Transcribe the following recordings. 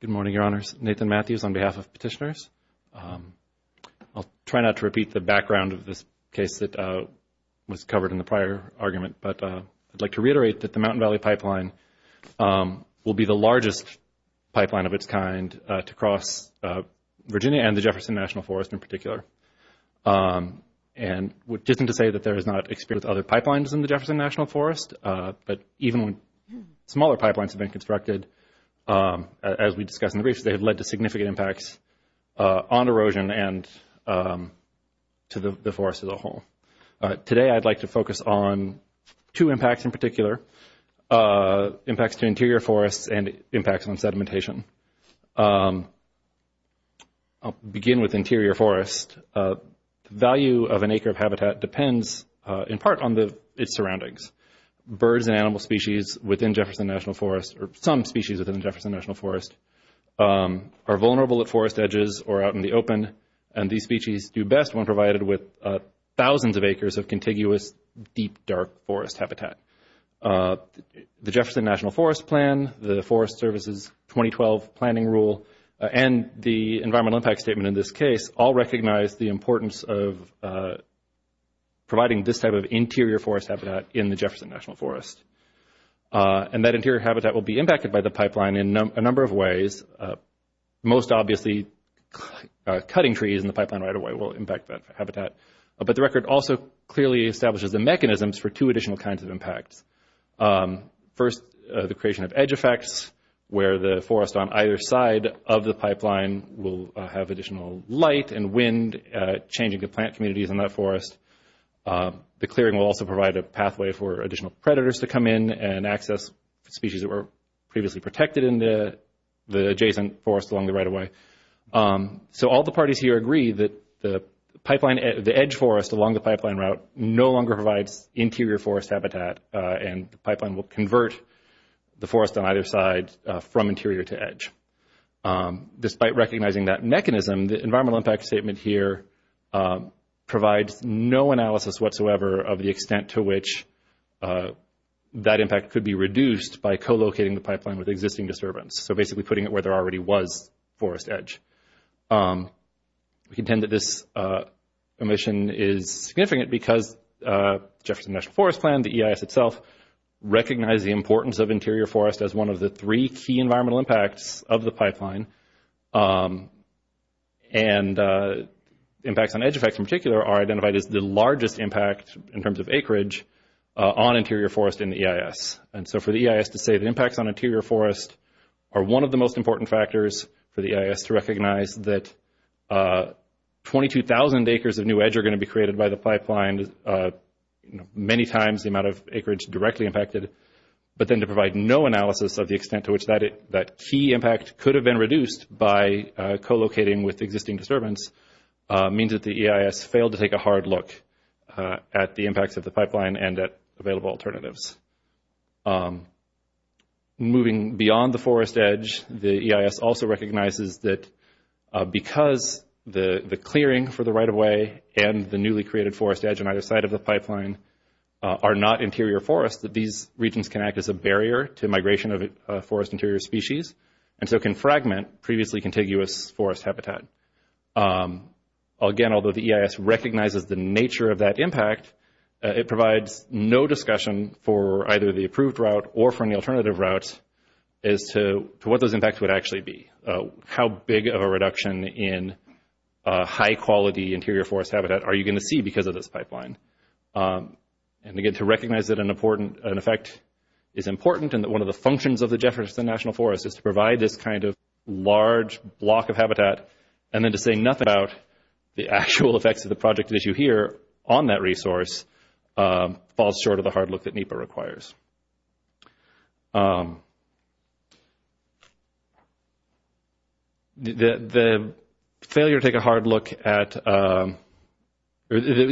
Good morning, Your Honors. Nathan Matthews on behalf of petitioners. I'll try not to repeat the background of this case that was covered in the prior argument, but I'd like to reiterate that the Mountain Valley Pipeline will be the largest pipeline of its kind to cross Virginia and the Jefferson National Forest in particular. And which isn't to say that there is not experience with other pipelines in the Jefferson National Forest, but even when smaller pipelines have been constructed, as we discussed in the briefs, they have led to significant impacts on erosion and to the forest as a whole. Today I'd like to focus on two impacts in particular, impacts to interior forests and impacts on sedimentation. I'll begin with interior forest. The value of an acre of habitat depends in part on its surroundings. Birds and animal species within Jefferson National Forest, or some species within the Jefferson National Forest, are vulnerable at forest edges or out in the open, and these species do best when provided with thousands of acres of contiguous, deep, dark forest habitat. The Jefferson National Forest Plan, the Forest Service's 2012 planning rule, and the environmental impact statement in this case all recognize the importance of providing this type of interior forest habitat in the Jefferson National Forest. And that interior habitat will be impacted by the pipeline in a number of ways. Most obviously, cutting trees in the pipeline right away will impact that habitat, but the record also clearly establishes the mechanisms for two additional kinds of impacts. First, the creation of edge effects where the forest on either side of the pipeline will have additional light and wind, changing the plant communities in that forest. The clearing will also provide a pathway for additional predators to come in and access species that were previously protected in the adjacent forest along the right-of-way. So all the parties here agree that the pipeline, the edge forest along the pipeline route no longer provides interior forest habitat, and the pipeline will convert the forest on either side from interior to edge. Despite recognizing that mechanism, the environmental impact statement here provides no analysis whatsoever of the extent to which that impact could be reduced by co-locating the pipeline with existing disturbance. So basically putting it where there already was forest edge. We contend that this omission is significant because the Jefferson National Forest Plan, the EIS itself, recognizes the importance of interior forest as one of the three key environmental impacts of the pipeline. And impacts on edge effects in particular are identified as the largest impact in terms of acreage on interior forest in the EIS. And so for the EIS to say that impacts on interior forest are one of the most important factors for the EIS to recognize that 22,000 acres of new edge are going to be created by the pipeline, many times the amount of acreage directly impacted, but then to provide no analysis of the extent to which that key impact could have been reduced by co-locating with existing disturbance means that the EIS failed to take a hard look at the impacts of the pipeline and at available alternatives. Moving beyond the forest edge, the EIS also recognizes that because the clearing for the right-of-way and the newly created forest edge on either side of the pipeline are not interior forest, that these regions can act as a barrier to migration of forest interior species and so can fragment previously contiguous forest habitat. Again, although the EIS recognizes the nature of that impact, it provides no discussion for either the approved route or for any alternative routes as to what those impacts would actually be. How big of a reduction in high-quality interior forest habitat are you going to see because of this pipeline? And again, to recognize that an effect is important and that one of the functions of the Jefferson National Forest is to provide this kind of large block of habitat and then to say nothing about the actual effects of the project at issue here on that resource falls short of the hard look that NEPA requires. The failure to take a hard look at the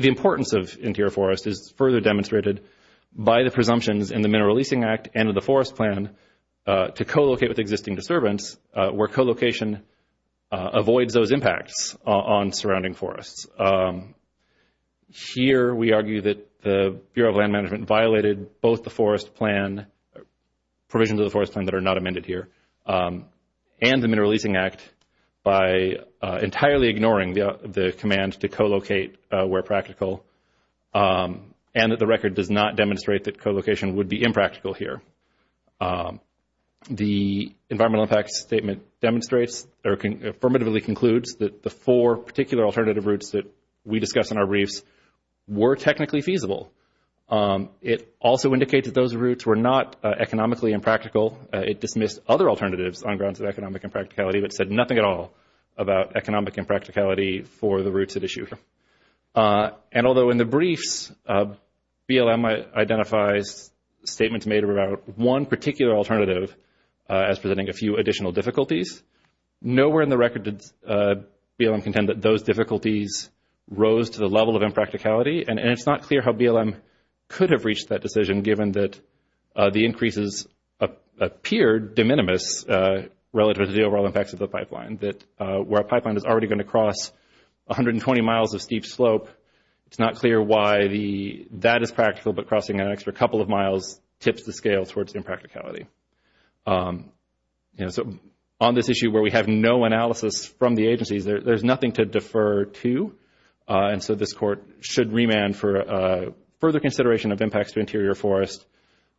importance of interior forest is further demonstrated by the presumptions in the Mineral Leasing Act and in the Forest Plan to co-locate with existing disturbance where co-location avoids those impacts on surrounding forests. Here we argue that the Bureau of Land Management violated both the Forest Plan, provisions of the Forest Plan that are not amended here, and the Mineral Leasing Act by entirely ignoring the command to co-locate where practical and that the record does not demonstrate that co-location would be impractical here. The Environmental Impact Statement affirmatively concludes that the four particular alternative routes that we discussed on our reefs were technically feasible. It also indicates that those routes were not economically impractical. It dismissed other alternatives on grounds of economic impracticality but said nothing at all about economic impracticality for the routes at issue here. And although in the briefs BLM identifies statements made about one particular alternative as presenting a few additional difficulties, nowhere in the record did BLM contend that those difficulties rose to the level of impracticality, and it's not clear how BLM could have reached that decision given that the increases appeared de minimis relative to the overall impacts of the pipeline, that where a pipeline is already going to cross 120 miles of steep slope, it's not clear why that is practical but crossing an extra couple of miles tips the scale towards impracticality. So on this issue where we have no analysis from the agencies, there's nothing to defer to, and so this Court should remand for further consideration of impacts to interior forests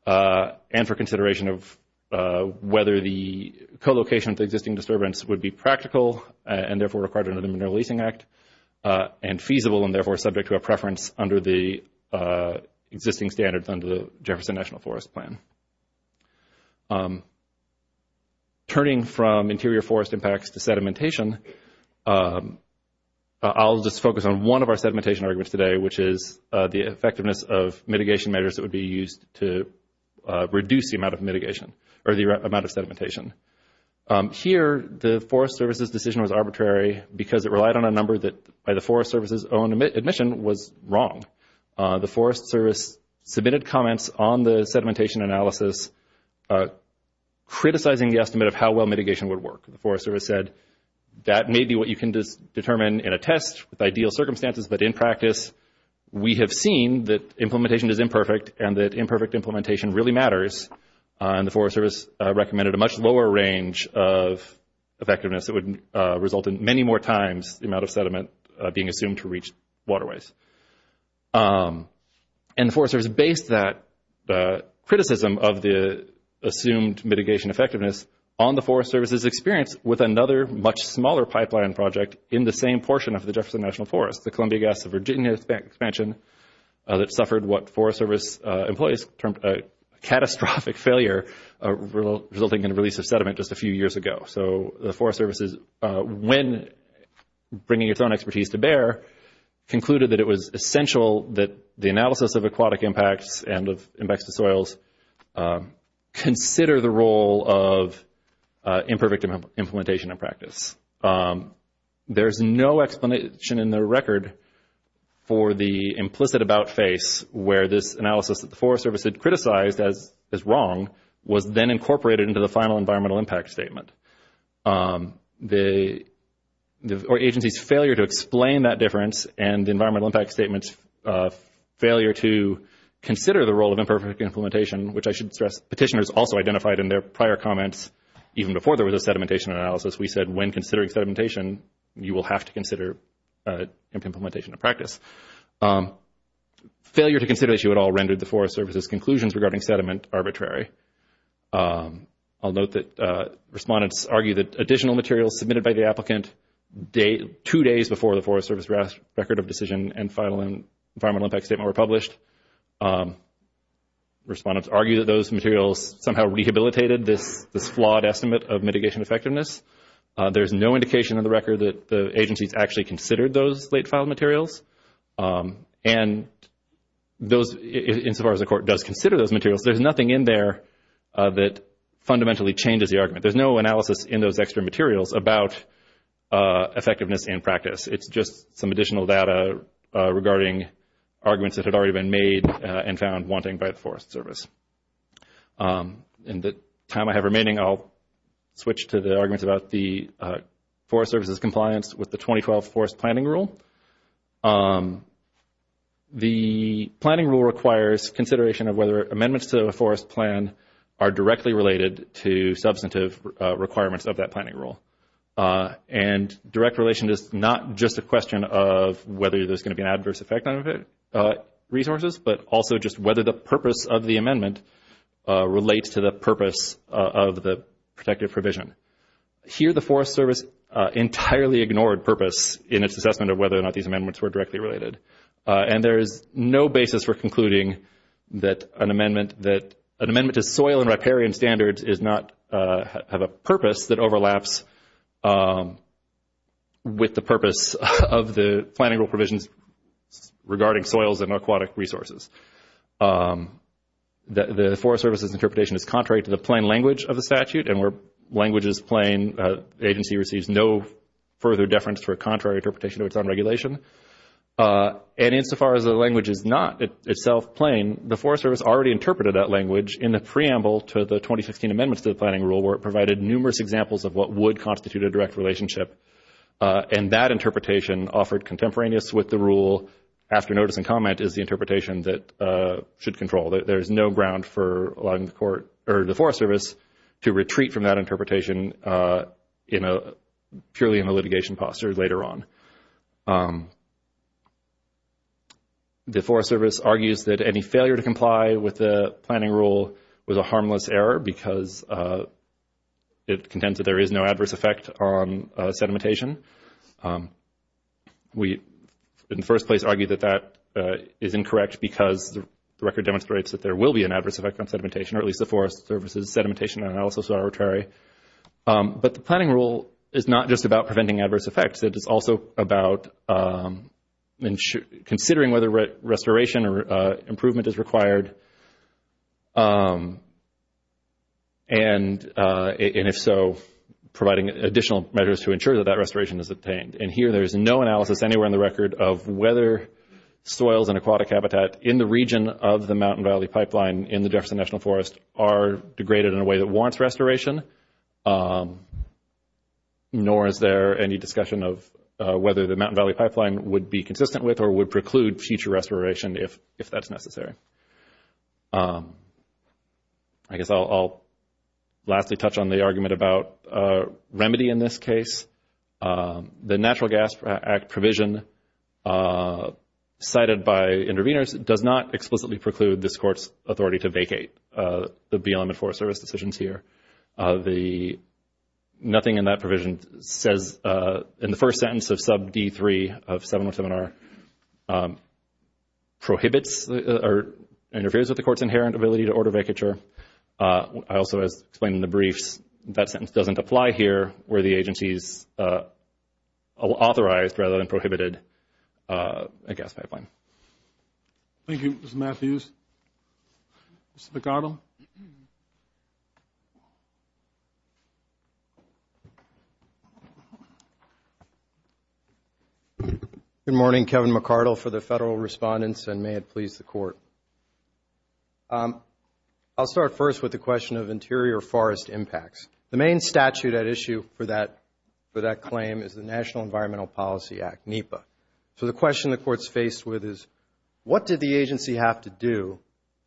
and for consideration of whether the colocation of the existing disturbance would be practical and therefore required under the Mineral Leasing Act and feasible and therefore subject to a preference under the existing standards under the Jefferson National Forest Plan. Turning from interior forest impacts to sedimentation, I'll just focus on one of our sedimentation arguments today, which is the effectiveness of mitigation measures that would be used to reduce the amount of mitigation or the amount of sedimentation. Here, the Forest Service's decision was arbitrary because it relied on a number that, by the Forest Service's own admission, was wrong. The Forest Service submitted comments on the sedimentation analysis criticizing the estimate of how well mitigation would work. The Forest Service said that may be what you can determine in a test with ideal circumstances, but in practice we have seen that implementation is imperfect and that imperfect implementation really matters. The Forest Service recommended a much lower range of effectiveness that would result in many more times the amount of sediment being assumed to reach waterways. The Forest Service based that criticism of the assumed mitigation effectiveness on the Forest Service's experience with another much smaller pipeline project in the same portion of the Jefferson National Forest, the Columbia-Gas-Virginia expansion, that suffered what Forest Service employees termed a catastrophic failure resulting in the release of sediment just a few years ago. So the Forest Service, when bringing its own expertise to bear, concluded that it was essential that the analysis of aquatic impacts and of impacts to soils consider the role of imperfect implementation in practice. There's no explanation in the record for the implicit about-face where this analysis that the Forest Service had criticized as wrong was then incorporated into the final environmental impact statement. The agency's failure to explain that difference and the environmental impact statement's failure to consider the role of imperfect implementation, which I should stress petitioners also identified in their prior comments even before there was a sedimentation analysis, we said when considering sedimentation you will have to consider imperfect implementation in practice. Failure to consider issue at all rendered the Forest Service's conclusions regarding sediment arbitrary. I'll note that respondents argue that additional materials submitted by the applicant two days before the Forest Service record of decision and final environmental impact statement were published. Respondents argue that those materials somehow rehabilitated this flawed estimate of mitigation effectiveness. There's no indication in the record that the agency's actually considered those late-filed materials. And those, insofar as the court does consider those materials, there's nothing in there that fundamentally changes the argument. There's no analysis in those extra materials about effectiveness in practice. It's just some additional data regarding arguments that had already been made and found wanting by the Forest Service. In the time I have remaining, I'll switch to the arguments about the Forest Service's compliance with the 2012 Forest Planning Rule. The planning rule requires consideration of whether amendments to a forest plan are directly related to substantive requirements of that planning rule. And direct relation is not just a question of whether there's going to be an adverse effect on resources, but also just whether the purpose of the amendment relates to the purpose of the protective provision. Here, the Forest Service entirely ignored purpose in its assessment of whether or not these amendments were directly related. And there is no basis for concluding that an amendment to soil and riparian standards does not have a purpose that overlaps with the purpose of the planning rule provisions regarding soils and aquatic resources. The Forest Service's interpretation is contrary to the plain language of the statute, and where language is plain, the agency receives no further deference to a contrary interpretation of its own regulation. And insofar as the language is not itself plain, the Forest Service already interpreted that language in the preamble to the 2016 amendments to the planning rule where it provided numerous examples of what would constitute a direct relationship. And that interpretation offered contemporaneous with the rule after notice and comment is the interpretation that should control. There's no ground for the Forest Service to retreat from that interpretation purely in a litigation posture later on. The Forest Service argues that any failure to comply with the planning rule was a harmless error because it contends that there is no adverse effect on sedimentation. We in the first place argue that that is incorrect because the record demonstrates that there will be an adverse effect on sedimentation, or at least the Forest Service's sedimentation analysis is arbitrary. But the planning rule is not just about preventing adverse effects, it is also about considering whether restoration or improvement is required, and if so, providing additional measures to ensure that that restoration is obtained. And here there is no analysis anywhere in the record of whether soils and aquatic habitat in the region of the Mountain Valley Pipeline in the Jefferson National Forest are degraded in a way that warrants restoration, nor is there any discussion of whether the Mountain Valley Pipeline would be consistent with or would preclude future restoration if that's necessary. I guess I'll lastly touch on the argument about remedy in this case. The Natural Gas Act provision cited by interveners does not explicitly preclude this Court's authority to vacate the BLM and Forest Service decisions here. Nothing in that provision says in the first sentence of sub D3 of 7-1-7-R prohibits or interferes with the Court's inherent ability to order vacature. I also explained in the briefs that sentence doesn't apply here where the agencies authorized rather than prohibited a gas pipeline. Thank you, Mr. Matthews. Mr. McArdle. Good morning. Kevin McArdle for the Federal Respondents, and may it please the Court. I'll start first with the question of interior forest impacts. The main statute at issue for that claim is the National Environmental Policy Act, NEPA. So the question the Court's faced with is what did the agency have to do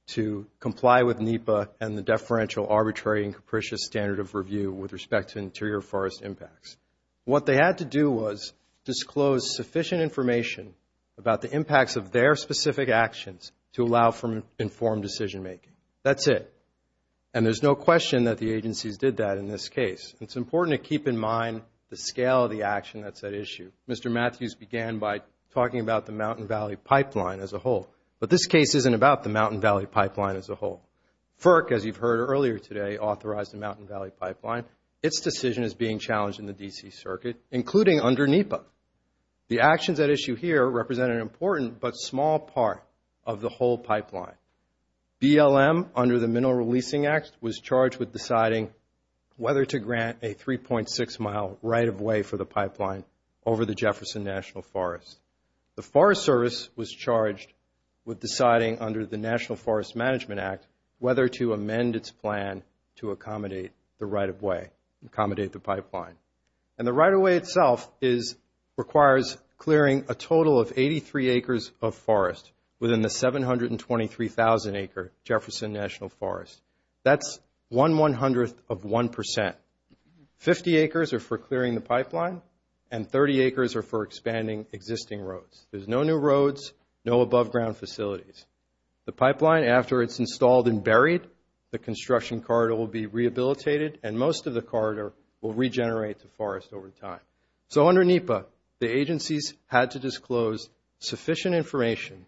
to comply with NEPA and the deferential arbitrary and capricious standard of review with respect to interior forest impacts? What they had to do was disclose sufficient information about the impacts of their specific actions to allow for informed decision making. That's it. And there's no question that the agencies did that in this case. It's important to keep in mind the scale of the action that's at issue. Mr. Matthews began by talking about the Mountain Valley Pipeline as a whole, but this case isn't about the Mountain Valley Pipeline as a whole. FERC, as you've heard earlier today, authorized the Mountain Valley Pipeline. Its decision is being challenged in the D.C. Circuit, including under NEPA. The actions at issue here represent an important but small part of the whole pipeline. BLM, under the Mineral Releasing Act, was charged with deciding whether to grant a 3.6-mile right-of-way for the pipeline over the Jefferson National Forest. The Forest Service was charged with deciding under the National Forest Management Act whether to amend its plan to accommodate the right-of-way, accommodate the pipeline. And the right-of-way itself requires clearing a total of 83 acres of forest within the 723,000-acre Jefferson National Forest. That's one one-hundredth of one percent. Fifty acres are for clearing the pipeline, and 30 acres are for expanding existing roads. There's no new roads, no above-ground facilities. The pipeline, after it's installed and buried, the construction corridor will be rehabilitated, and most of the corridor will regenerate to forest over time. So under NEPA, the agencies had to disclose sufficient information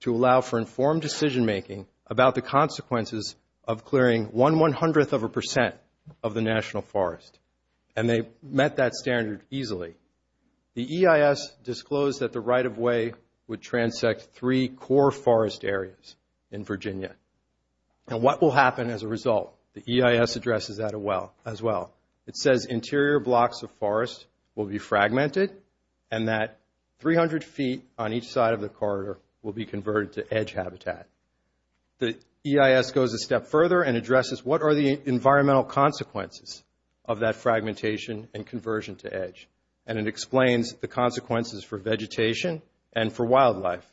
to allow for informed decision-making about the consequences of clearing one one-hundredth of a percent of the national forest. And they met that standard easily. The EIS disclosed that the right-of-way would transect three core forest areas in Virginia. And what will happen as a result? The EIS addresses that as well. It says interior blocks of forest will be fragmented, and that 300 feet on each side of the corridor will be converted to edge habitat. The EIS goes a step further and addresses, what are the environmental consequences of that fragmentation and conversion to edge? And it explains the consequences for vegetation and for wildlife.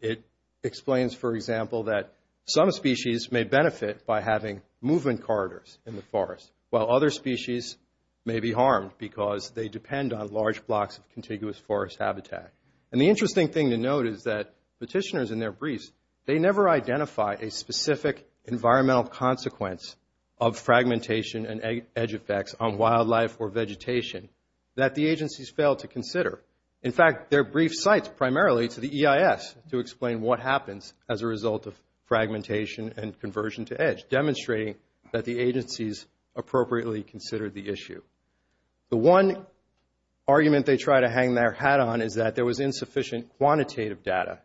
It explains, for example, that some species may benefit by having movement corridors in the forest, while other species may be harmed because they depend on large blocks of contiguous forest habitat. And the interesting thing to note is that petitioners in their briefs, they never identify a specific environmental consequence of fragmentation and edge effects on wildlife or vegetation that the agencies fail to consider. In fact, their brief cites primarily to the EIS to explain what happens as a result of fragmentation and conversion to edge, demonstrating that the agencies appropriately considered the issue. The one argument they try to hang their hat on is that there was insufficient quantitative data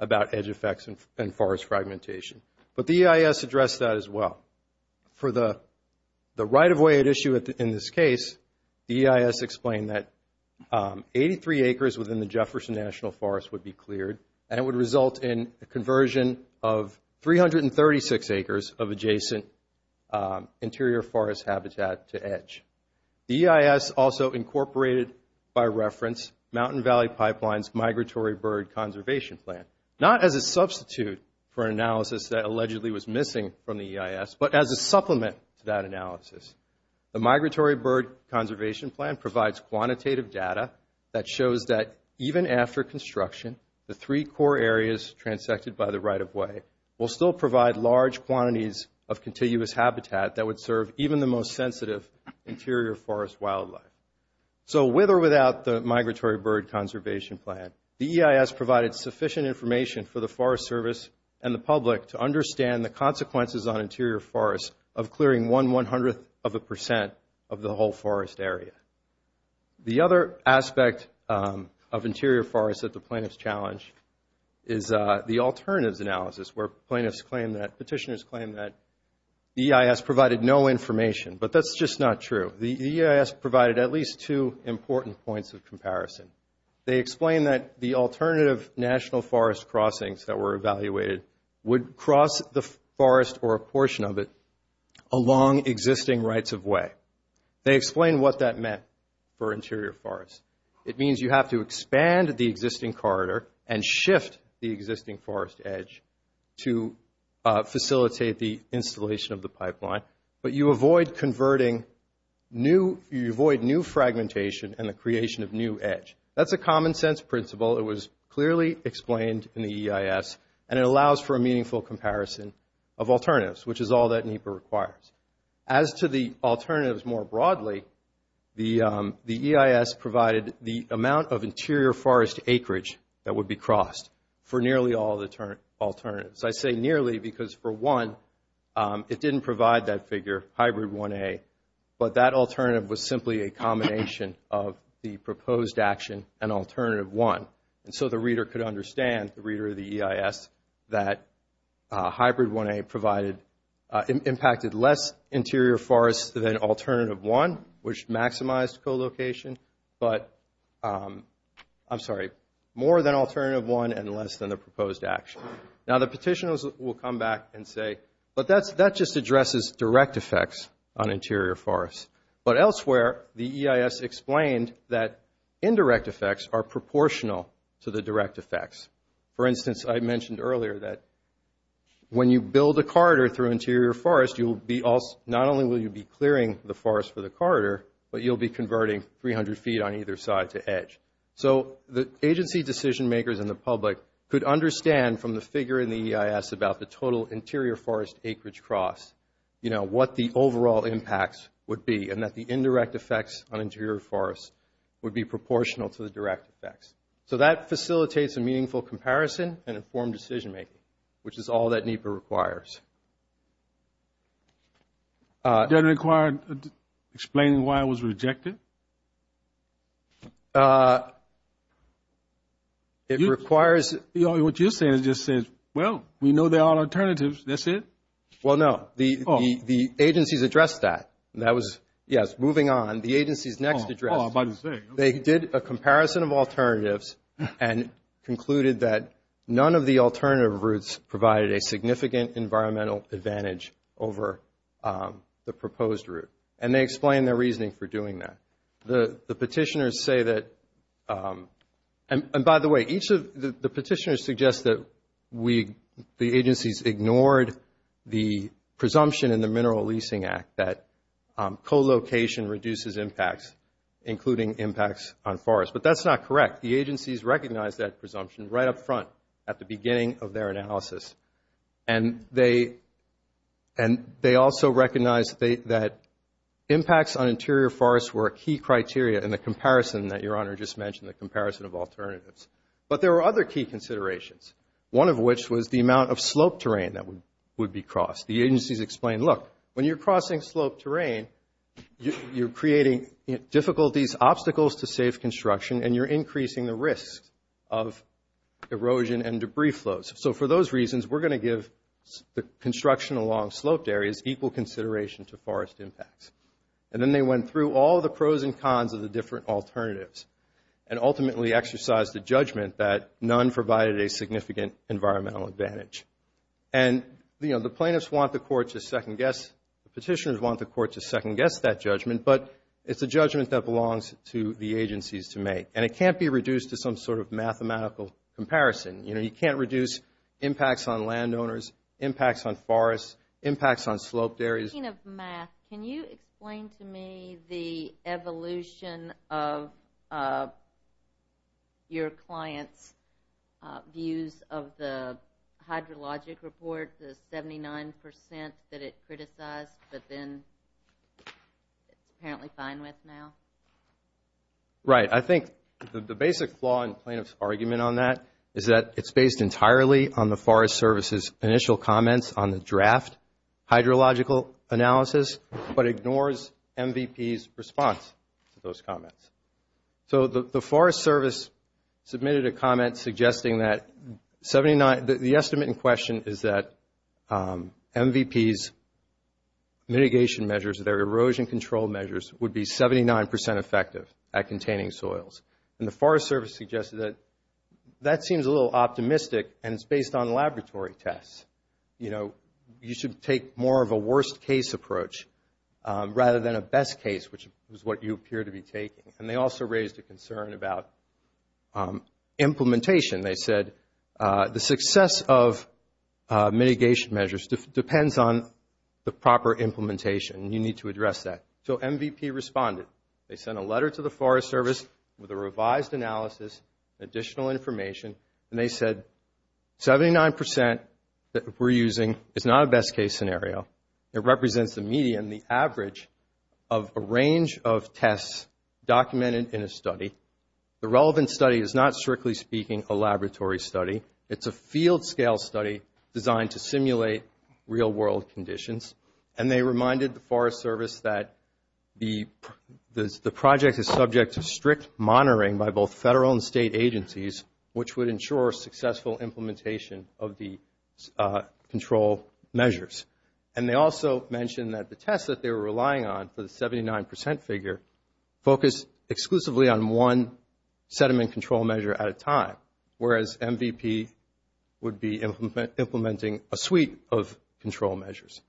about edge effects and forest fragmentation. But the EIS addressed that as well. For the right-of-way at issue in this case, the EIS explained that 83 acres within the Jefferson National Forest would be cleared, and it would result in a conversion of 336 acres of adjacent interior forest habitat to edge. The EIS also incorporated by reference Mountain Valley Pipeline's Migratory Bird Conservation Plan, not as a substitute for an analysis that allegedly was missing from the EIS, but as a supplement to that analysis. The Migratory Bird Conservation Plan provides quantitative data that shows that even after construction, the three core areas transected by the right-of-way will still provide large quantities of continuous habitat that would serve even the most sensitive interior forest wildlife. So with or without the Migratory Bird Conservation Plan, the EIS provided sufficient information for the Forest Service and the public to understand the consequences on interior forests of clearing one one-hundredth of a percent of the whole forest area. The other aspect of interior forests that the plaintiffs challenged is the alternatives analysis, where petitioners claim that the EIS provided no information. But that's just not true. The EIS provided at least two important points of comparison. They explained that the alternative national forest crossings that were evaluated would cross the forest or a portion of it along existing rights-of-way. They explained what that meant for interior forests. It means you have to expand the existing corridor and shift the existing forest edge to facilitate the installation of the pipeline, but you avoid converting new, you avoid new fragmentation and the creation of new edge. That's a common sense principle. It was clearly explained in the EIS, and it allows for a meaningful comparison of alternatives, which is all that NEPA requires. As to the alternatives more broadly, the EIS provided the amount of interior forest acreage that would be crossed for nearly all the alternatives. I say nearly because, for one, it didn't provide that figure, hybrid 1A, but that alternative was simply a combination of the proposed action and alternative one. And so the reader could understand, the reader of the EIS, that hybrid 1A provided, impacted less interior forests than alternative one, which maximized co-location, but, I'm sorry, more than alternative one and less than the proposed action. Now the petitioners will come back and say, but that just addresses direct effects on interior forests. But elsewhere, the EIS explained that indirect effects are proportional to the direct effects. For instance, I mentioned earlier that when you build a corridor through interior forest, not only will you be clearing the forest for the corridor, but you'll be converting 300 feet on either side to edge. So the agency decision makers and the public could understand from the figure in the EIS about the total interior forest acreage cross, you know, what the overall impacts would be, and that the indirect effects on interior forests would be proportional to the direct effects. So that facilitates a meaningful comparison and informed decision making, which is all that NEPA requires. Does it require explaining why it was rejected? It requires. What you're saying is just saying, well, we know there are alternatives. That's it? Well, no. The agencies addressed that. That was, yes, moving on. The agencies next addressed. Oh, I was about to say. They did a comparison of alternatives and concluded that none of the alternative routes provided a significant environmental advantage over the proposed route. And they explained their reasoning for doing that. The petitioners say that, and by the way, the petitioners suggest that the agencies ignored the presumption in the Mineral Leasing Act that co-location reduces impacts, including impacts on forests. But that's not correct. The agencies recognized that presumption right up front at the beginning of their analysis. And they also recognized that impacts on interior forests were a key criteria in the comparison that Your Honor just mentioned, the comparison of alternatives. But there were other key considerations, one of which was the amount of slope terrain that would be crossed. The agencies explained, look, when you're crossing slope terrain, you're creating difficulties, obstacles to safe construction, and you're increasing the risk of erosion and debris flows. So for those reasons, we're going to give the construction along sloped areas equal consideration to forest impacts. And then they went through all the pros and cons of the different alternatives and ultimately exercised the judgment that none provided a significant environmental advantage. And, you know, the plaintiffs want the court to second guess, the petitioners want the court to second guess that judgment, but it's a judgment that belongs to the agencies to make. And it can't be reduced to some sort of mathematical comparison. You know, you can't reduce impacts on landowners, impacts on forests, impacts on sloped areas. Speaking of math, can you explain to me the evolution of your client's views of the hydrologic report, the 79 percent that it criticized but then it's apparently fine with now? Right. I think the basic flaw in the plaintiff's argument on that is that it's based entirely on the Forest Service's initial comments on the draft hydrological analysis but ignores MVP's response to those comments. So the Forest Service submitted a comment suggesting that 79, the estimate in question is that MVP's mitigation measures, their erosion control measures would be 79 percent effective at containing soils. And the Forest Service suggested that that seems a little optimistic and it's based on laboratory tests. You know, you should take more of a worst case approach rather than a best case, which is what you appear to be taking. And they also raised a concern about implementation. They said the success of mitigation measures depends on the proper implementation. You need to address that. So MVP responded. They sent a letter to the Forest Service with a revised analysis, additional information, and they said 79 percent that we're using is not a best case scenario. It represents the median, the average of a range of tests documented in a study. The relevant study is not, strictly speaking, a laboratory study. It's a field scale study designed to simulate real world conditions. And they reminded the Forest Service that the project is subject to strict monitoring by both federal and state agencies, which would ensure successful implementation of the control measures. And they also mentioned that the tests that they were relying on for the 79 percent figure focused exclusively on one sediment control measure at a time, whereas MVP would be implementing a suite of control measures.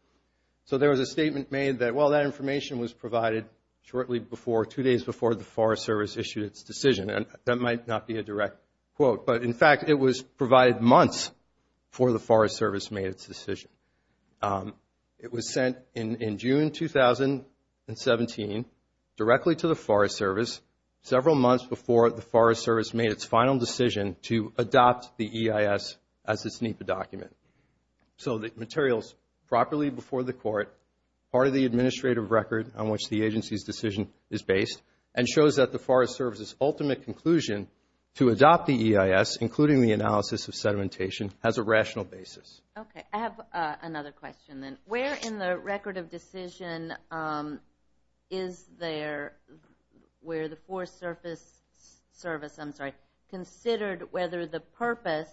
So there was a statement made that, well, that information was provided shortly before, two days before the Forest Service issued its decision. And that might not be a direct quote, but, in fact, it was provided months before the Forest Service made its decision. It was sent in June 2017 directly to the Forest Service, several months before the Forest Service made its final decision to adopt the EIS as its NEPA document. So the material is properly before the court, part of the administrative record on which the agency's decision is based, and shows that the Forest Service's ultimate conclusion to adopt the EIS, including the analysis of sedimentation, has a rational basis. Okay, I have another question then. Where in the record of decision is there where the Forest Service, I'm sorry, considered whether the purpose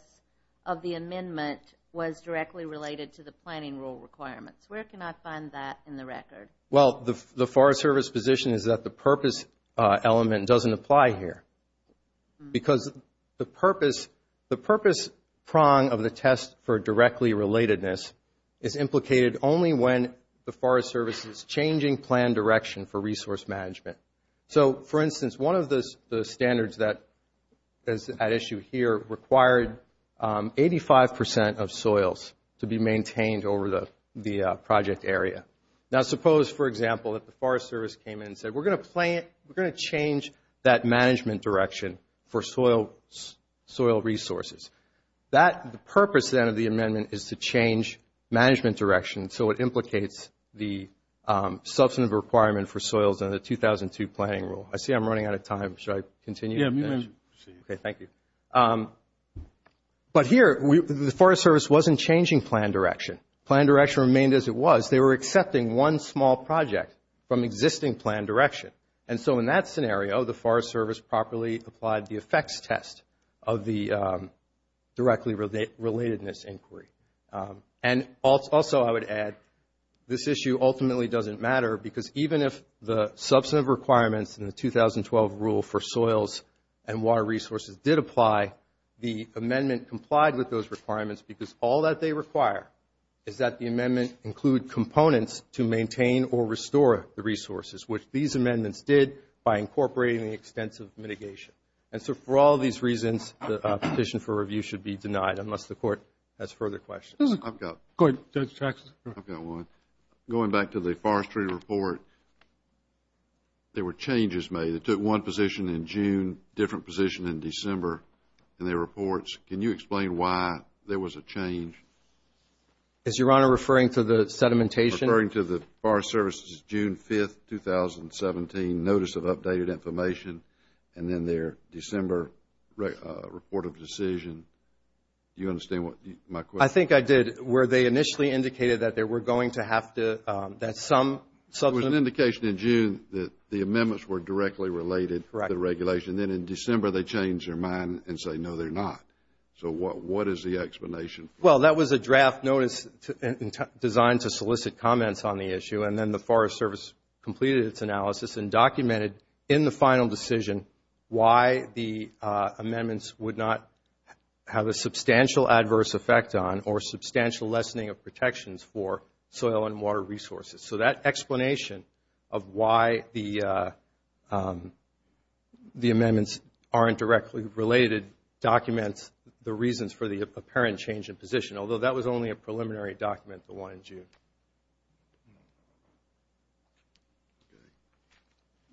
of the amendment was directly related to the planning rule requirements? Where can I find that in the record? Well, the Forest Service position is that the purpose element doesn't apply here. Because the purpose prong of the test for directly relatedness is implicated only when the Forest Service is changing plan direction for resource management. So, for instance, one of the standards that is at issue here required 85 percent of soils to be maintained over the project area. Now suppose, for example, that the Forest Service came in and said, we're going to change that management direction for soil resources. The purpose then of the amendment is to change management direction, so it implicates the substantive requirement for soils in the 2002 planning rule. I see I'm running out of time. Should I continue? Yeah, you may. Okay, thank you. But here, the Forest Service wasn't changing plan direction. Plan direction remained as it was. They were accepting one small project from existing plan direction. And so in that scenario, the Forest Service properly applied the effects test of the directly relatedness inquiry. And also I would add, this issue ultimately doesn't matter because even if the substantive requirements in the 2012 rule for soils and water resources did apply, the amendment complied with those requirements because all that they require is that the amendment include components to maintain or restore the resources, which these amendments did by incorporating the extensive mitigation. And so for all these reasons, the petition for review should be denied, unless the Court has further questions. I've got one. Go ahead, Judge Trax. I've got one. Going back to the Forestry Report, there were changes made. It took one position in June, different position in December in the reports. Can you explain why there was a change? Is Your Honor referring to the sedimentation? Referring to the Forest Service's June 5, 2017, Notice of Updated Information, and then their December report of decision. Do you understand my question? I think I did, where they initially indicated that they were going to have to, that some substantive There was an indication in June that the amendments were directly related to the regulation. Then in December they changed their mind and say, no, they're not. So what is the explanation? Well, that was a draft notice designed to solicit comments on the issue, and then the Forest Service completed its analysis and documented in the final decision why the amendments would not have a substantial adverse effect on or substantial lessening of protections for soil and water resources. So that explanation of why the amendments aren't directly related documents the reasons for the apparent change in position, although that was only a preliminary document, the one in June.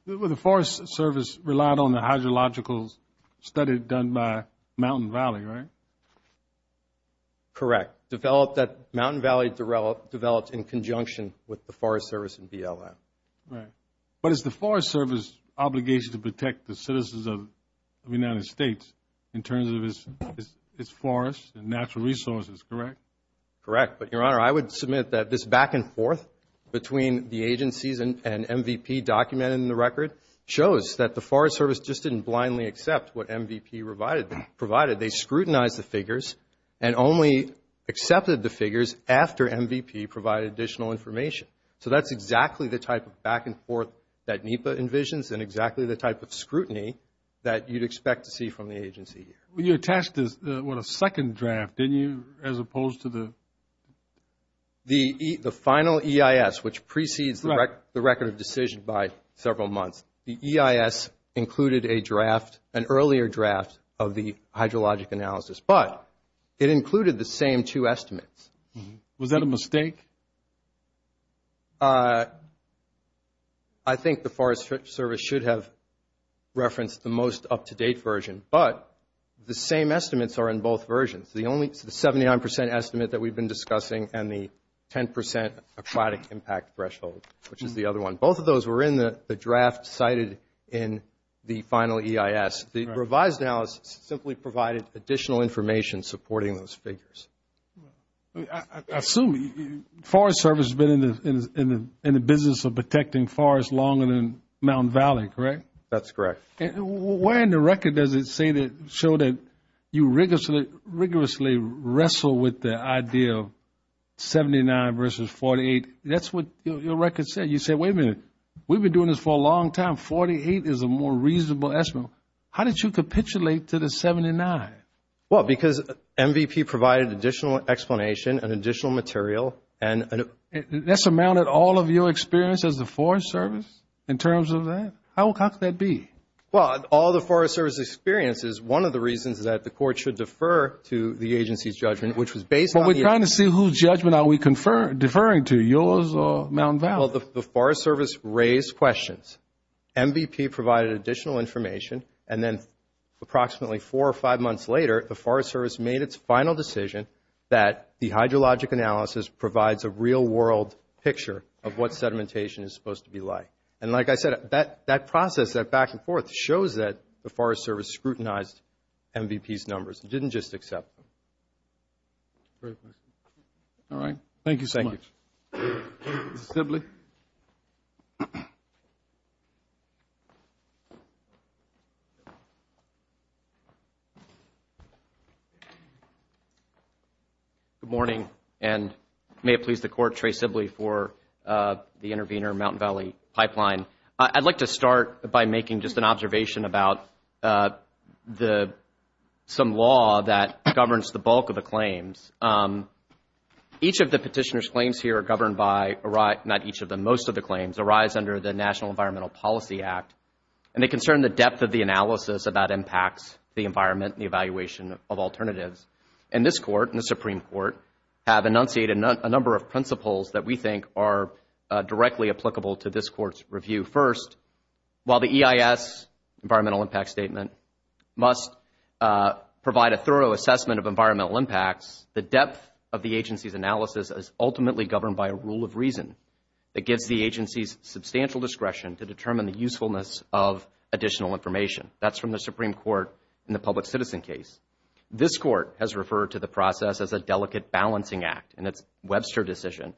The Forest Service relied on the hydrological study done by Mountain Valley, right? Correct. Mountain Valley developed in conjunction with the Forest Service and BLM. Right. But it's the Forest Service obligation to protect the citizens of the United States in terms of its forests and natural resources, correct? Correct. But, Your Honor, I would submit that this back-and-forth between the agencies and MVP documented in the record shows that the Forest Service just didn't blindly accept what MVP provided. They scrutinized the figures and only accepted the figures after MVP provided additional information. So that's exactly the type of back-and-forth that NEPA envisions and exactly the type of scrutiny that you'd expect to see from the agency here. Your test is what, a second draft, as opposed to the? The final EIS, which precedes the record of decision by several months. The EIS included an earlier draft of the hydrologic analysis, but it included the same two estimates. Was that a mistake? I think the Forest Service should have referenced the most up-to-date version, but the same estimates are in both versions. The 79 percent estimate that we've been discussing and the 10 percent aquatic impact threshold, which is the other one. Both of those were in the draft cited in the final EIS. The revised analysis simply provided additional information supporting those figures. I assume the Forest Service has been in the business of protecting forests longer than Mountain Valley, correct? That's correct. Where in the record does it show that you rigorously wrestle with the idea of 79 versus 48? That's what your record said. You said, wait a minute, we've been doing this for a long time, 48 is a more reasonable estimate. How did you capitulate to the 79? Well, because MVP provided additional explanation and additional material. That's amounted all of your experience as the Forest Service in terms of that? How can that be? Well, all the Forest Service experience is one of the reasons that the court should defer to the agency's judgment, which was based on the agency's judgment. But we're trying to see whose judgment are we deferring to, yours or Mountain Valley? Well, the Forest Service raised questions. MVP provided additional information, and then approximately four or five months later, the Forest Service made its final decision that the hydrologic analysis provides a real-world picture of what sedimentation is supposed to be like. And like I said, that process, that back and forth, shows that the Forest Service scrutinized MVP's numbers. It didn't just accept them. Great question. All right. Thank you so much. Thank you. Mr. Sibley? Good morning, and may it please the Court, Trey Sibley for the intervener, Mountain Valley Pipeline. I'd like to start by making just an observation about some law that governs the bulk of the claims. Each of the petitioner's claims here are governed by, not each of them, most of the claims, arise under the National Environmental Policy Act. And they concern the depth of the analysis about impacts, the environment, and the evaluation of alternatives. And this Court and the Supreme Court have enunciated a number of principles that we think are directly applicable to this Court's review. First, while the EIS, Environmental Impact Statement, must provide a thorough assessment of environmental impacts, the depth of the agency's analysis is ultimately governed by a rule of reason that gives the agency's substantial discretion to determine the usefulness of additional information. That's from the Supreme Court in the public citizen case. This Court has referred to the process as a delicate balancing act in its Webster decision.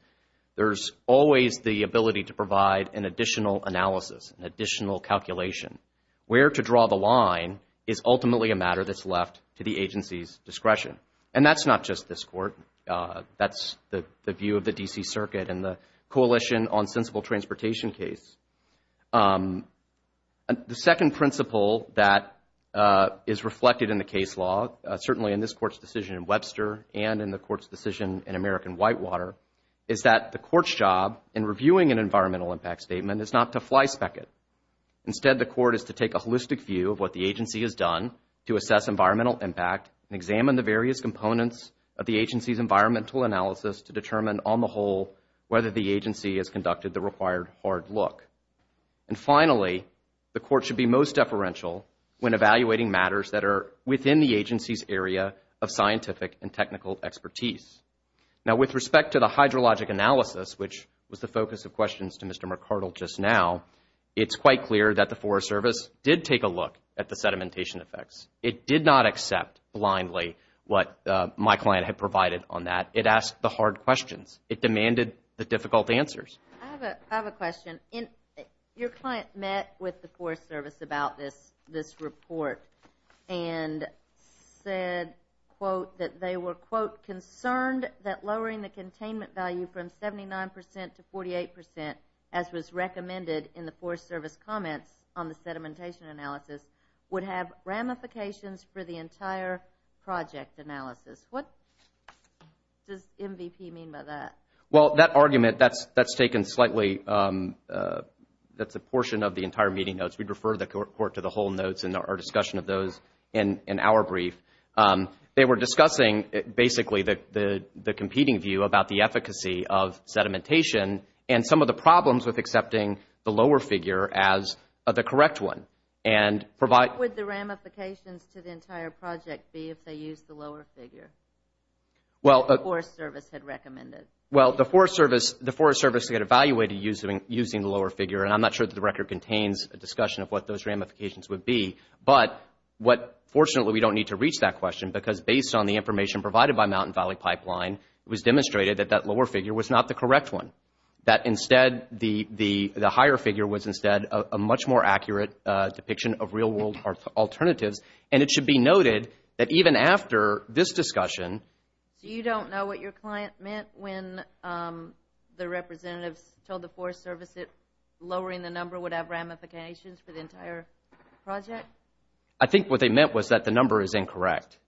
There's always the ability to provide an additional analysis, an additional calculation. Where to draw the line is ultimately a matter that's left to the agency's discretion. And that's not just this Court. That's the view of the D.C. Circuit and the Coalition on Sensible Transportation case. The second principle that is reflected in the case law, certainly in this Court's decision in Webster and in the Court's decision in American Whitewater, is that the Court's job in reviewing an environmental impact statement is not to flyspeck it. Instead, the Court is to take a holistic view of what the agency has done to assess environmental impact and examine the various components of the agency's environmental analysis to determine, on the whole, whether the agency has conducted the required hard look. And finally, the Court should be most deferential when evaluating matters that are within the agency's area of scientific and technical expertise. Now, with respect to the hydrologic analysis, which was the focus of questions to Mr. McArdle just now, it's quite clear that the Forest Service did take a look at the sedimentation effects. It did not accept blindly what my client had provided on that. It asked the hard questions. It demanded the difficult answers. I have a question. Your client met with the Forest Service about this report and said, quote, that they were, quote, concerned that lowering the containment value from 79 percent to 48 percent, as was recommended in the Forest Service comments on the sedimentation analysis, would have ramifications for the entire project analysis. What does MVP mean by that? Well, that argument, that's taken slightly, that's a portion of the entire meeting notes. We refer the Court to the whole notes in our discussion of those in our brief. They were discussing basically the competing view about the efficacy of sedimentation and some of the problems with accepting the lower figure as the correct one. What would the ramifications to the entire project be if they used the lower figure, which the Forest Service had recommended? Well, the Forest Service had evaluated using the lower figure, and I'm not sure that the record contains a discussion of what those ramifications would be. But fortunately, we don't need to reach that question because based on the information provided by Mountain Valley Pipeline, it was demonstrated that that lower figure was not the correct one, that instead the higher figure was instead a much more accurate depiction of real-world alternatives. And it should be noted that even after this discussion— So you don't know what your client meant when the representatives told the Forest Service that lowering the number would have ramifications for the entire project? I think what they meant was that the number is incorrect.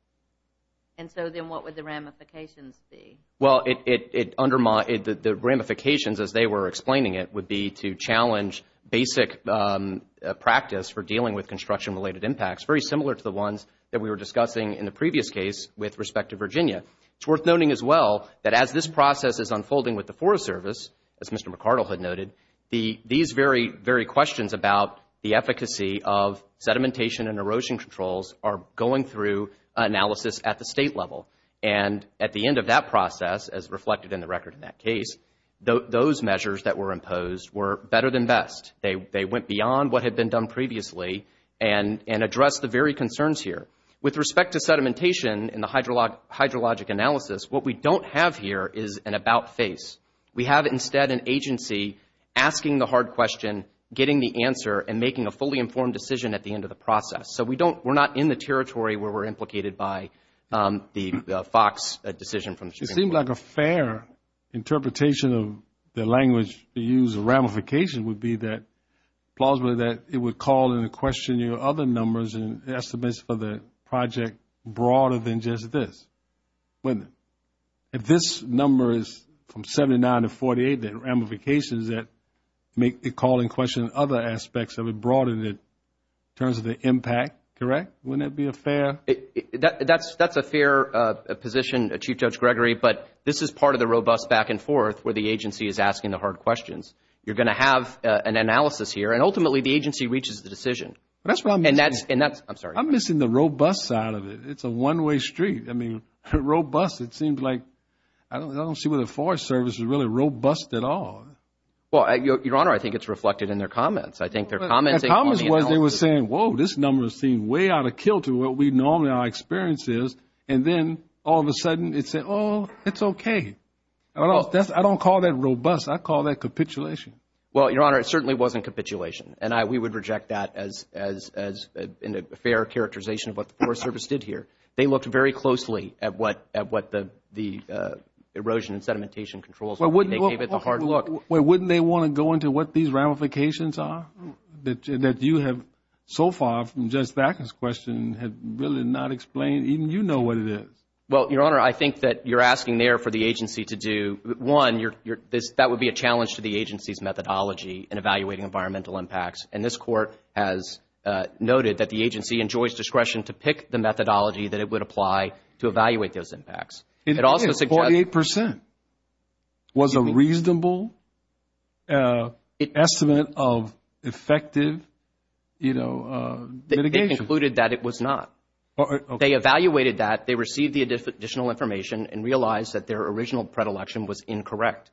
And so then what would the ramifications be? Well, the ramifications, as they were explaining it, would be to challenge basic practice for dealing with construction-related impacts, very similar to the ones that we were discussing in the previous case with respect to Virginia. It's worth noting as well that as this process is unfolding with the Forest Service, as Mr. McArdle had noted, these very questions about the efficacy of sedimentation and erosion controls are going through analysis at the State level. And at the end of that process, as reflected in the record in that case, those measures that were imposed were better than best. They went beyond what had been done previously and addressed the very concerns here. With respect to sedimentation and the hydrologic analysis, what we don't have here is an about-face. We have instead an agency asking the hard question, getting the answer, and making a fully informed decision at the end of the process. So we're not in the territory where we're implicated by the FOX decision. It seems like a fair interpretation of the language used, a ramification would be that it would call into question your other numbers and estimates for the project broader than just this. If this number is from 79 to 48, the ramifications that make it call into question other aspects of it, broaden it in terms of the impact, correct? Wouldn't that be fair? That's a fair position, Chief Judge Gregory, but this is part of the robust back-and-forth where the agency is asking the hard questions. You're going to have an analysis here, and ultimately the agency reaches the decision. I'm missing the robust side of it. It's a one-way street. I mean, robust, it seems like. I don't see why the Forest Service is really robust at all. Well, Your Honor, I think it's reflected in their comments. I think they're commenting on the analysis. They're saying, whoa, this number seems way out of kilter to what we normally experience this, and then all of a sudden it says, oh, it's okay. I don't call that robust. I call that capitulation. Well, Your Honor, it certainly wasn't capitulation, and we would reject that as a fair characterization of what the Forest Service did here. They looked very closely at what the erosion and sedimentation controls are. They gave it the hard look. Wouldn't they want to go into what these ramifications are that you have so far, from Judge Thacker's question, have really not explained? Even you know what it is. Well, Your Honor, I think that you're asking there for the agency to do, one, that would be a challenge to the agency's methodology in evaluating environmental impacts, and this Court has noted that the agency enjoys discretion to pick the methodology that it would apply to evaluate those impacts. 48% was a reasonable estimate of effective, you know, mitigation. They concluded that it was not. They evaluated that. They received the additional information and realized that their original predilection was incorrect,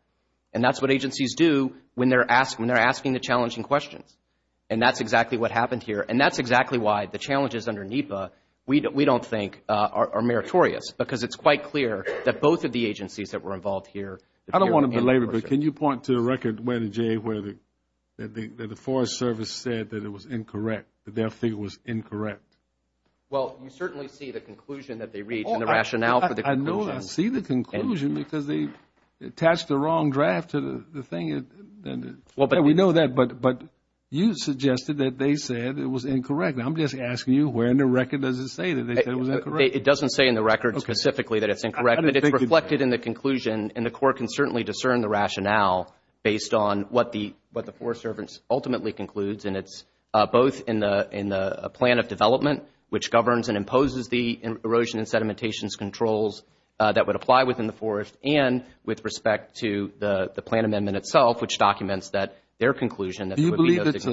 and that's what agencies do when they're asking the challenging questions, and that's exactly what happened here, and that's exactly why the challenges under NEPA we don't think are meritorious because it's quite clear that both of the agencies that were involved here I don't want to belabor, but can you point to a record, Wendell J., where the Forest Service said that it was incorrect, that their figure was incorrect? Well, you certainly see the conclusion that they reach and the rationale for the conclusion. I know I see the conclusion because they attached the wrong draft to the thing. We know that, but you suggested that they said it was incorrect. I'm just asking you where in the record does it say that it was incorrect? It doesn't say in the record specifically that it's incorrect, but it's reflected in the conclusion, and the court can certainly discern the rationale based on what the Forest Service ultimately concludes, and it's both in the plan of development, which governs and imposes the Erosion and Sedimentation Controls that would apply within the forest, and with respect to the plan amendment itself, which documents their conclusion. In terms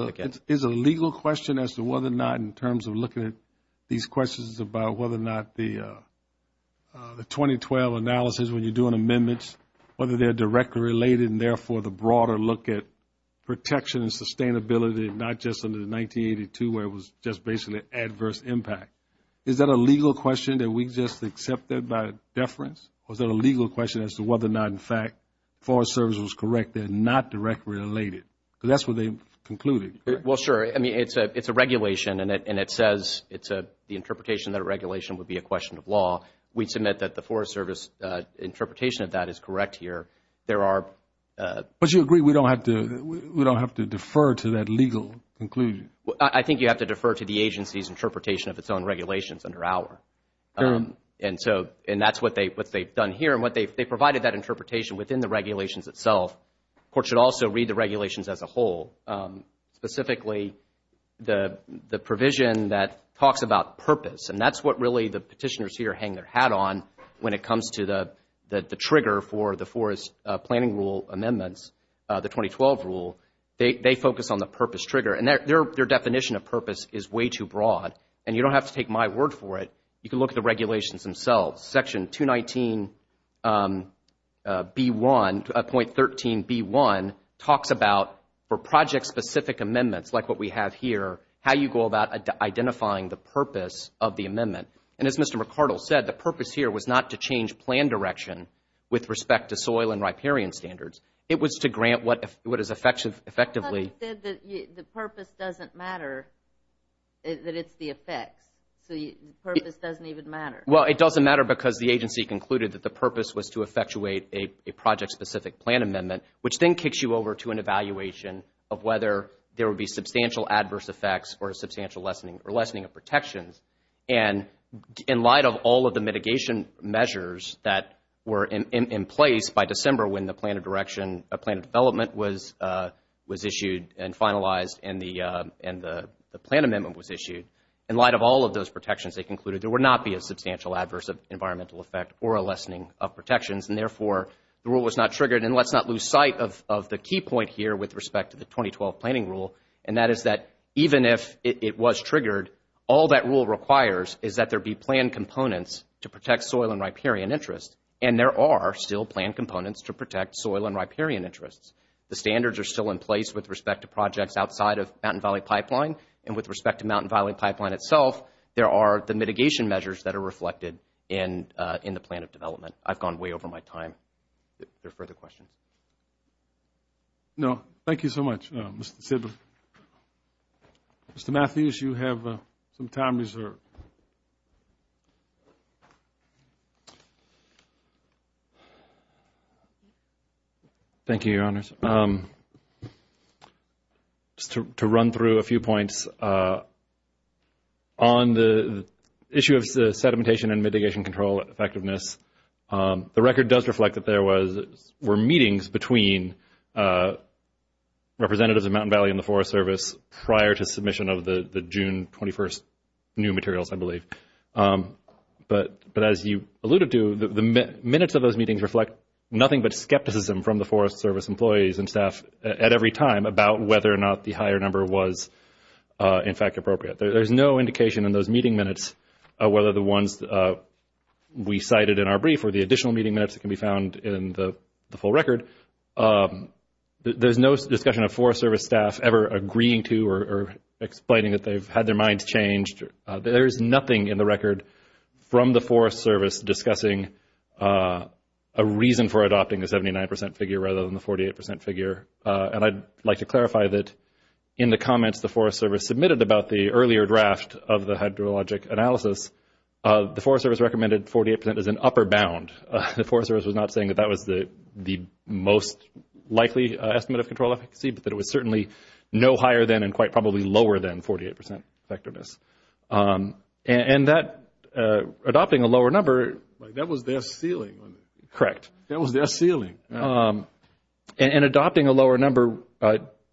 of looking at these questions about whether or not the 2012 analysis, when you're doing amendments, whether they're directly related, and therefore the broader look at protection and sustainability, not just under the 1982 where it was just basically adverse impact. Is that a legal question that we just accepted by deference, or is that a legal question as to whether or not, in fact, the Forest Service was correct they're not directly related? Because that's what they concluded. Well, sure. I mean, it's a regulation, and it says it's the interpretation that a regulation would be a question of law. We submit that the Forest Service interpretation of that is correct here. But you agree we don't have to defer to that legal conclusion? I think you have to defer to the agency's interpretation of its own regulations under our. And that's what they've done here, and they provided that interpretation within the regulations itself. The Court should also read the regulations as a whole, specifically the provision that talks about purpose, and that's what really the petitioners here hang their hat on when it comes to the trigger for the Forest Planning Rule amendments, the 2012 rule. They focus on the purpose trigger, and their definition of purpose is way too broad, and you don't have to take my word for it. You can look at the regulations themselves. Section 219.13b1 talks about, for project-specific amendments like what we have here, how you go about identifying the purpose of the amendment. And as Mr. McCardle said, the purpose here was not to change plan direction with respect to soil and riparian standards. It was to grant what is effectively. The purpose doesn't matter, that it's the effects. So the purpose doesn't even matter. Well, it doesn't matter because the agency concluded that the purpose was to effectuate a project-specific plan amendment, which then kicks you over to an evaluation of whether there would be substantial adverse effects or a substantial lessening or lessening of protections. And in light of all of the mitigation measures that were in place by December when the plan of direction, a plan of development was issued and finalized and the plan amendment was issued, in light of all of those protections, they concluded there would not be a substantial adverse environmental effect or a lessening of protections. And therefore, the rule was not triggered. And let's not lose sight of the key point here with respect to the 2012 planning rule, and that is that even if it was triggered, all that rule requires is that there be planned components to protect soil and riparian interests. And there are still planned components to protect soil and riparian interests. The standards are still in place with respect to projects outside of Mountain Valley Pipeline. And with respect to Mountain Valley Pipeline itself, there are the mitigation measures that are reflected in the plan of development. I've gone way over my time. Are there further questions? No. Thank you so much, Mr. Sidley. Mr. Matthews, you have some time reserved. Thank you, Your Honors. Just to run through a few points, on the issue of sedimentation and mitigation control effectiveness, the record does reflect that there were meetings between representatives of Mountain Valley and the Forest Service prior to submission of the June 21st new materials, I believe. But as you alluded to, the minutes of those meetings reflect nothing but skepticism from the Forest Service employees and staff at every time about whether or not the higher number was, in fact, appropriate. There's no indication in those meeting minutes whether the ones we cited in our brief or the additional meeting minutes that can be found in the full record. There's no discussion of Forest Service staff ever agreeing to or explaining that they've had their minds changed. There is nothing in the record from the Forest Service discussing a reason for adopting a 79% figure rather than the 48% figure. And I'd like to clarify that in the comments the Forest Service submitted about the earlier draft of the hydrologic analysis, the Forest Service recommended 48% as an upper bound. The Forest Service was not saying that that was the most likely estimate of control efficacy, but that it was certainly no higher than and quite probably lower than 48% effectiveness. And adopting a lower number, that was their ceiling. Correct. That was their ceiling. And adopting a lower number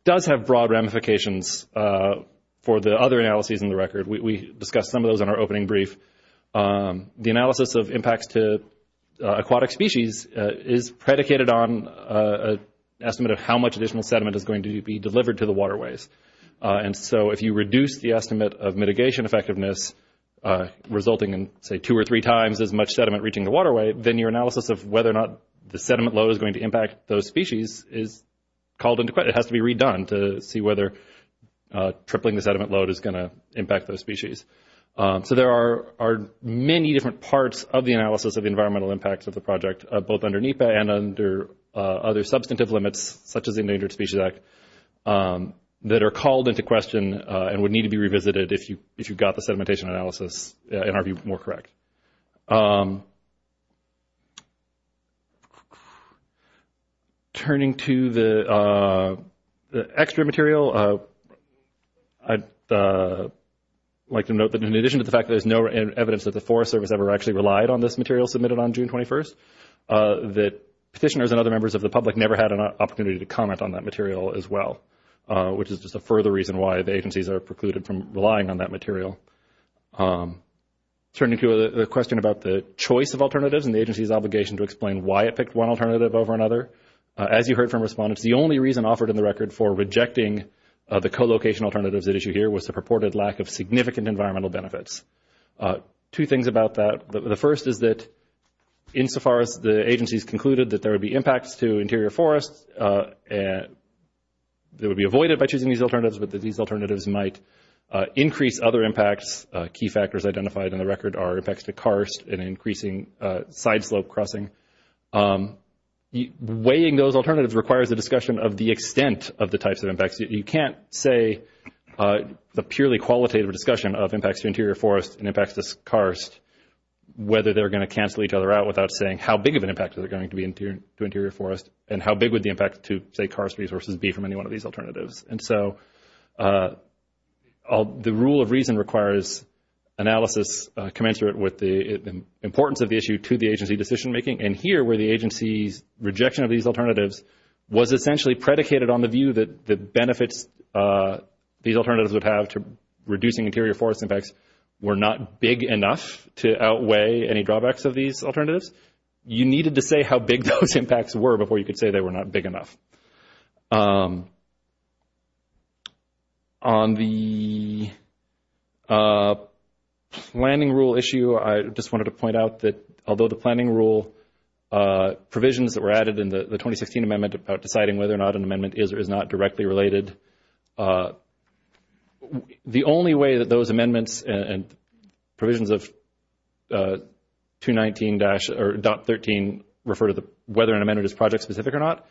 does have broad ramifications for the other analyses in the record. We discussed some of those in our opening brief. The analysis of impacts to aquatic species is predicated on an estimate of how much additional sediment is going to be delivered to the waterways. And so if you reduce the estimate of mitigation effectiveness, resulting in, say, the analysis of whether or not the sediment load is going to impact those species is called into question. It has to be redone to see whether tripling the sediment load is going to impact those species. So there are many different parts of the analysis of environmental impacts of the project, both under NEPA and under other substantive limits, such as the Endangered Species Act, that are called into question and would need to be revisited if you got the sedimentation analysis, in our view, more correct. Turning to the extra material, I'd like to note that in addition to the fact that there's no evidence that the Forest Service ever actually relied on this material submitted on June 21st, that petitioners and other members of the public never had an opportunity to comment on that material as well, which is just a further reason why the agencies are precluded from relying on that material. Turning to the question about the choice of alternatives and the agency's obligation to explain why it picked one alternative over another, as you heard from respondents, the only reason offered in the record for rejecting the co-location alternatives at issue here was the purported lack of significant environmental benefits. Two things about that. The first is that insofar as the agencies concluded that there would be impacts to interior forests, they would be avoided by choosing these alternatives, but that these alternatives might increase other impacts. Key factors identified in the record are impacts to karst and increasing sideslope crossing. Weighing those alternatives requires a discussion of the extent of the types of impacts. You can't say the purely qualitative discussion of impacts to interior forests and impacts to karst, whether they're going to cancel each other out without saying how big of an impact they're going to be to interior forests and how big would the impact to, say, karst resources be from any one of these alternatives. And so the rule of reason requires analysis commensurate with the importance of the issue to the agency decision-making. And here where the agency's rejection of these alternatives was essentially predicated on the view that the benefits these alternatives would have to reducing interior forest impacts were not big enough to outweigh any drawbacks of these alternatives, you needed to say how big those impacts were before you could say they were not big enough. On the planning rule issue, I just wanted to point out that although the planning rule provisions that were added in the amendment are related, the only way that those amendments and provisions of 219.13 refer to whether an amendment is project-specific or not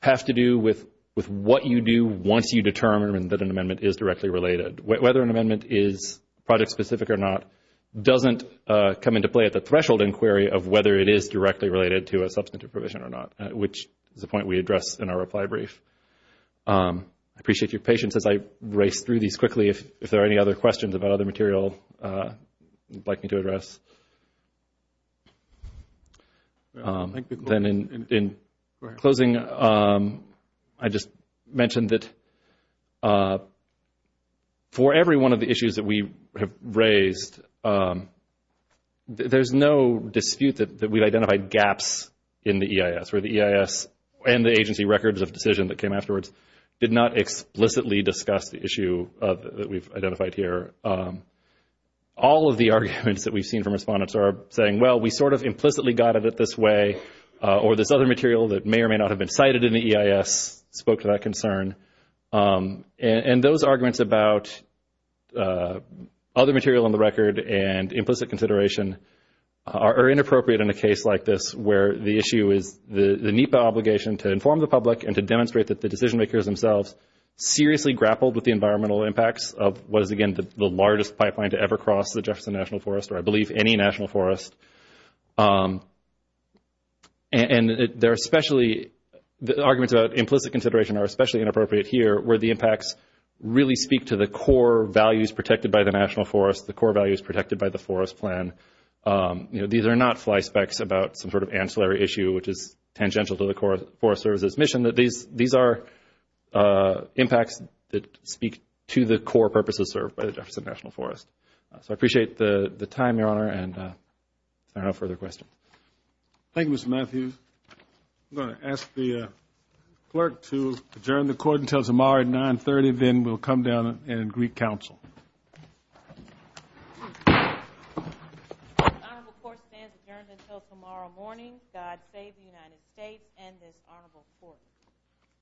has to do with what you do once you determine that an amendment is directly related. Whether an amendment is project-specific or not doesn't come into play at the threshold inquiry of whether it is directly related to a substantive provision or not, which is a point we address in our reply brief. I appreciate your patience as I race through these quickly if there are any other questions about other material you'd like me to address. In closing, I just mentioned that for every one of the issues that we have raised, there's no dispute that we've identified gaps in the EIS where the EIS and the agency records of decision that came afterwards did not explicitly discuss the issue that we've identified here. All of the arguments that we've seen from respondents are saying, well, we sort of implicitly got at it this way, or this other material that may or may not have been cited in the EIS spoke to that concern. And those arguments about other material on the record and implicit consideration are inappropriate in a case like this where the issue is the NEPA obligation to inform the public and to demonstrate that the decision-makers themselves seriously grappled with the environmental impacts of what is, again, the largest pipeline to ever cross the Jefferson National Forest, or I believe any national forest. And the arguments about implicit consideration are especially inappropriate here where the impacts really speak to the core values protected by the National Forest, the core values protected by the Forest Plan. These are not fly specs about some sort of ancillary issue, which is tangential to the Forest Service's mission. These are impacts that speak to the core purposes served by the Jefferson National Forest. So I appreciate the time, Your Honor, and if there are no further questions. Thank you, Mr. Matthews. I'm going to ask the clerk to adjourn the court until tomorrow at 930. Then we'll come down and greet counsel. This honorable court stands adjourned until tomorrow morning. God save the United States and this honorable court.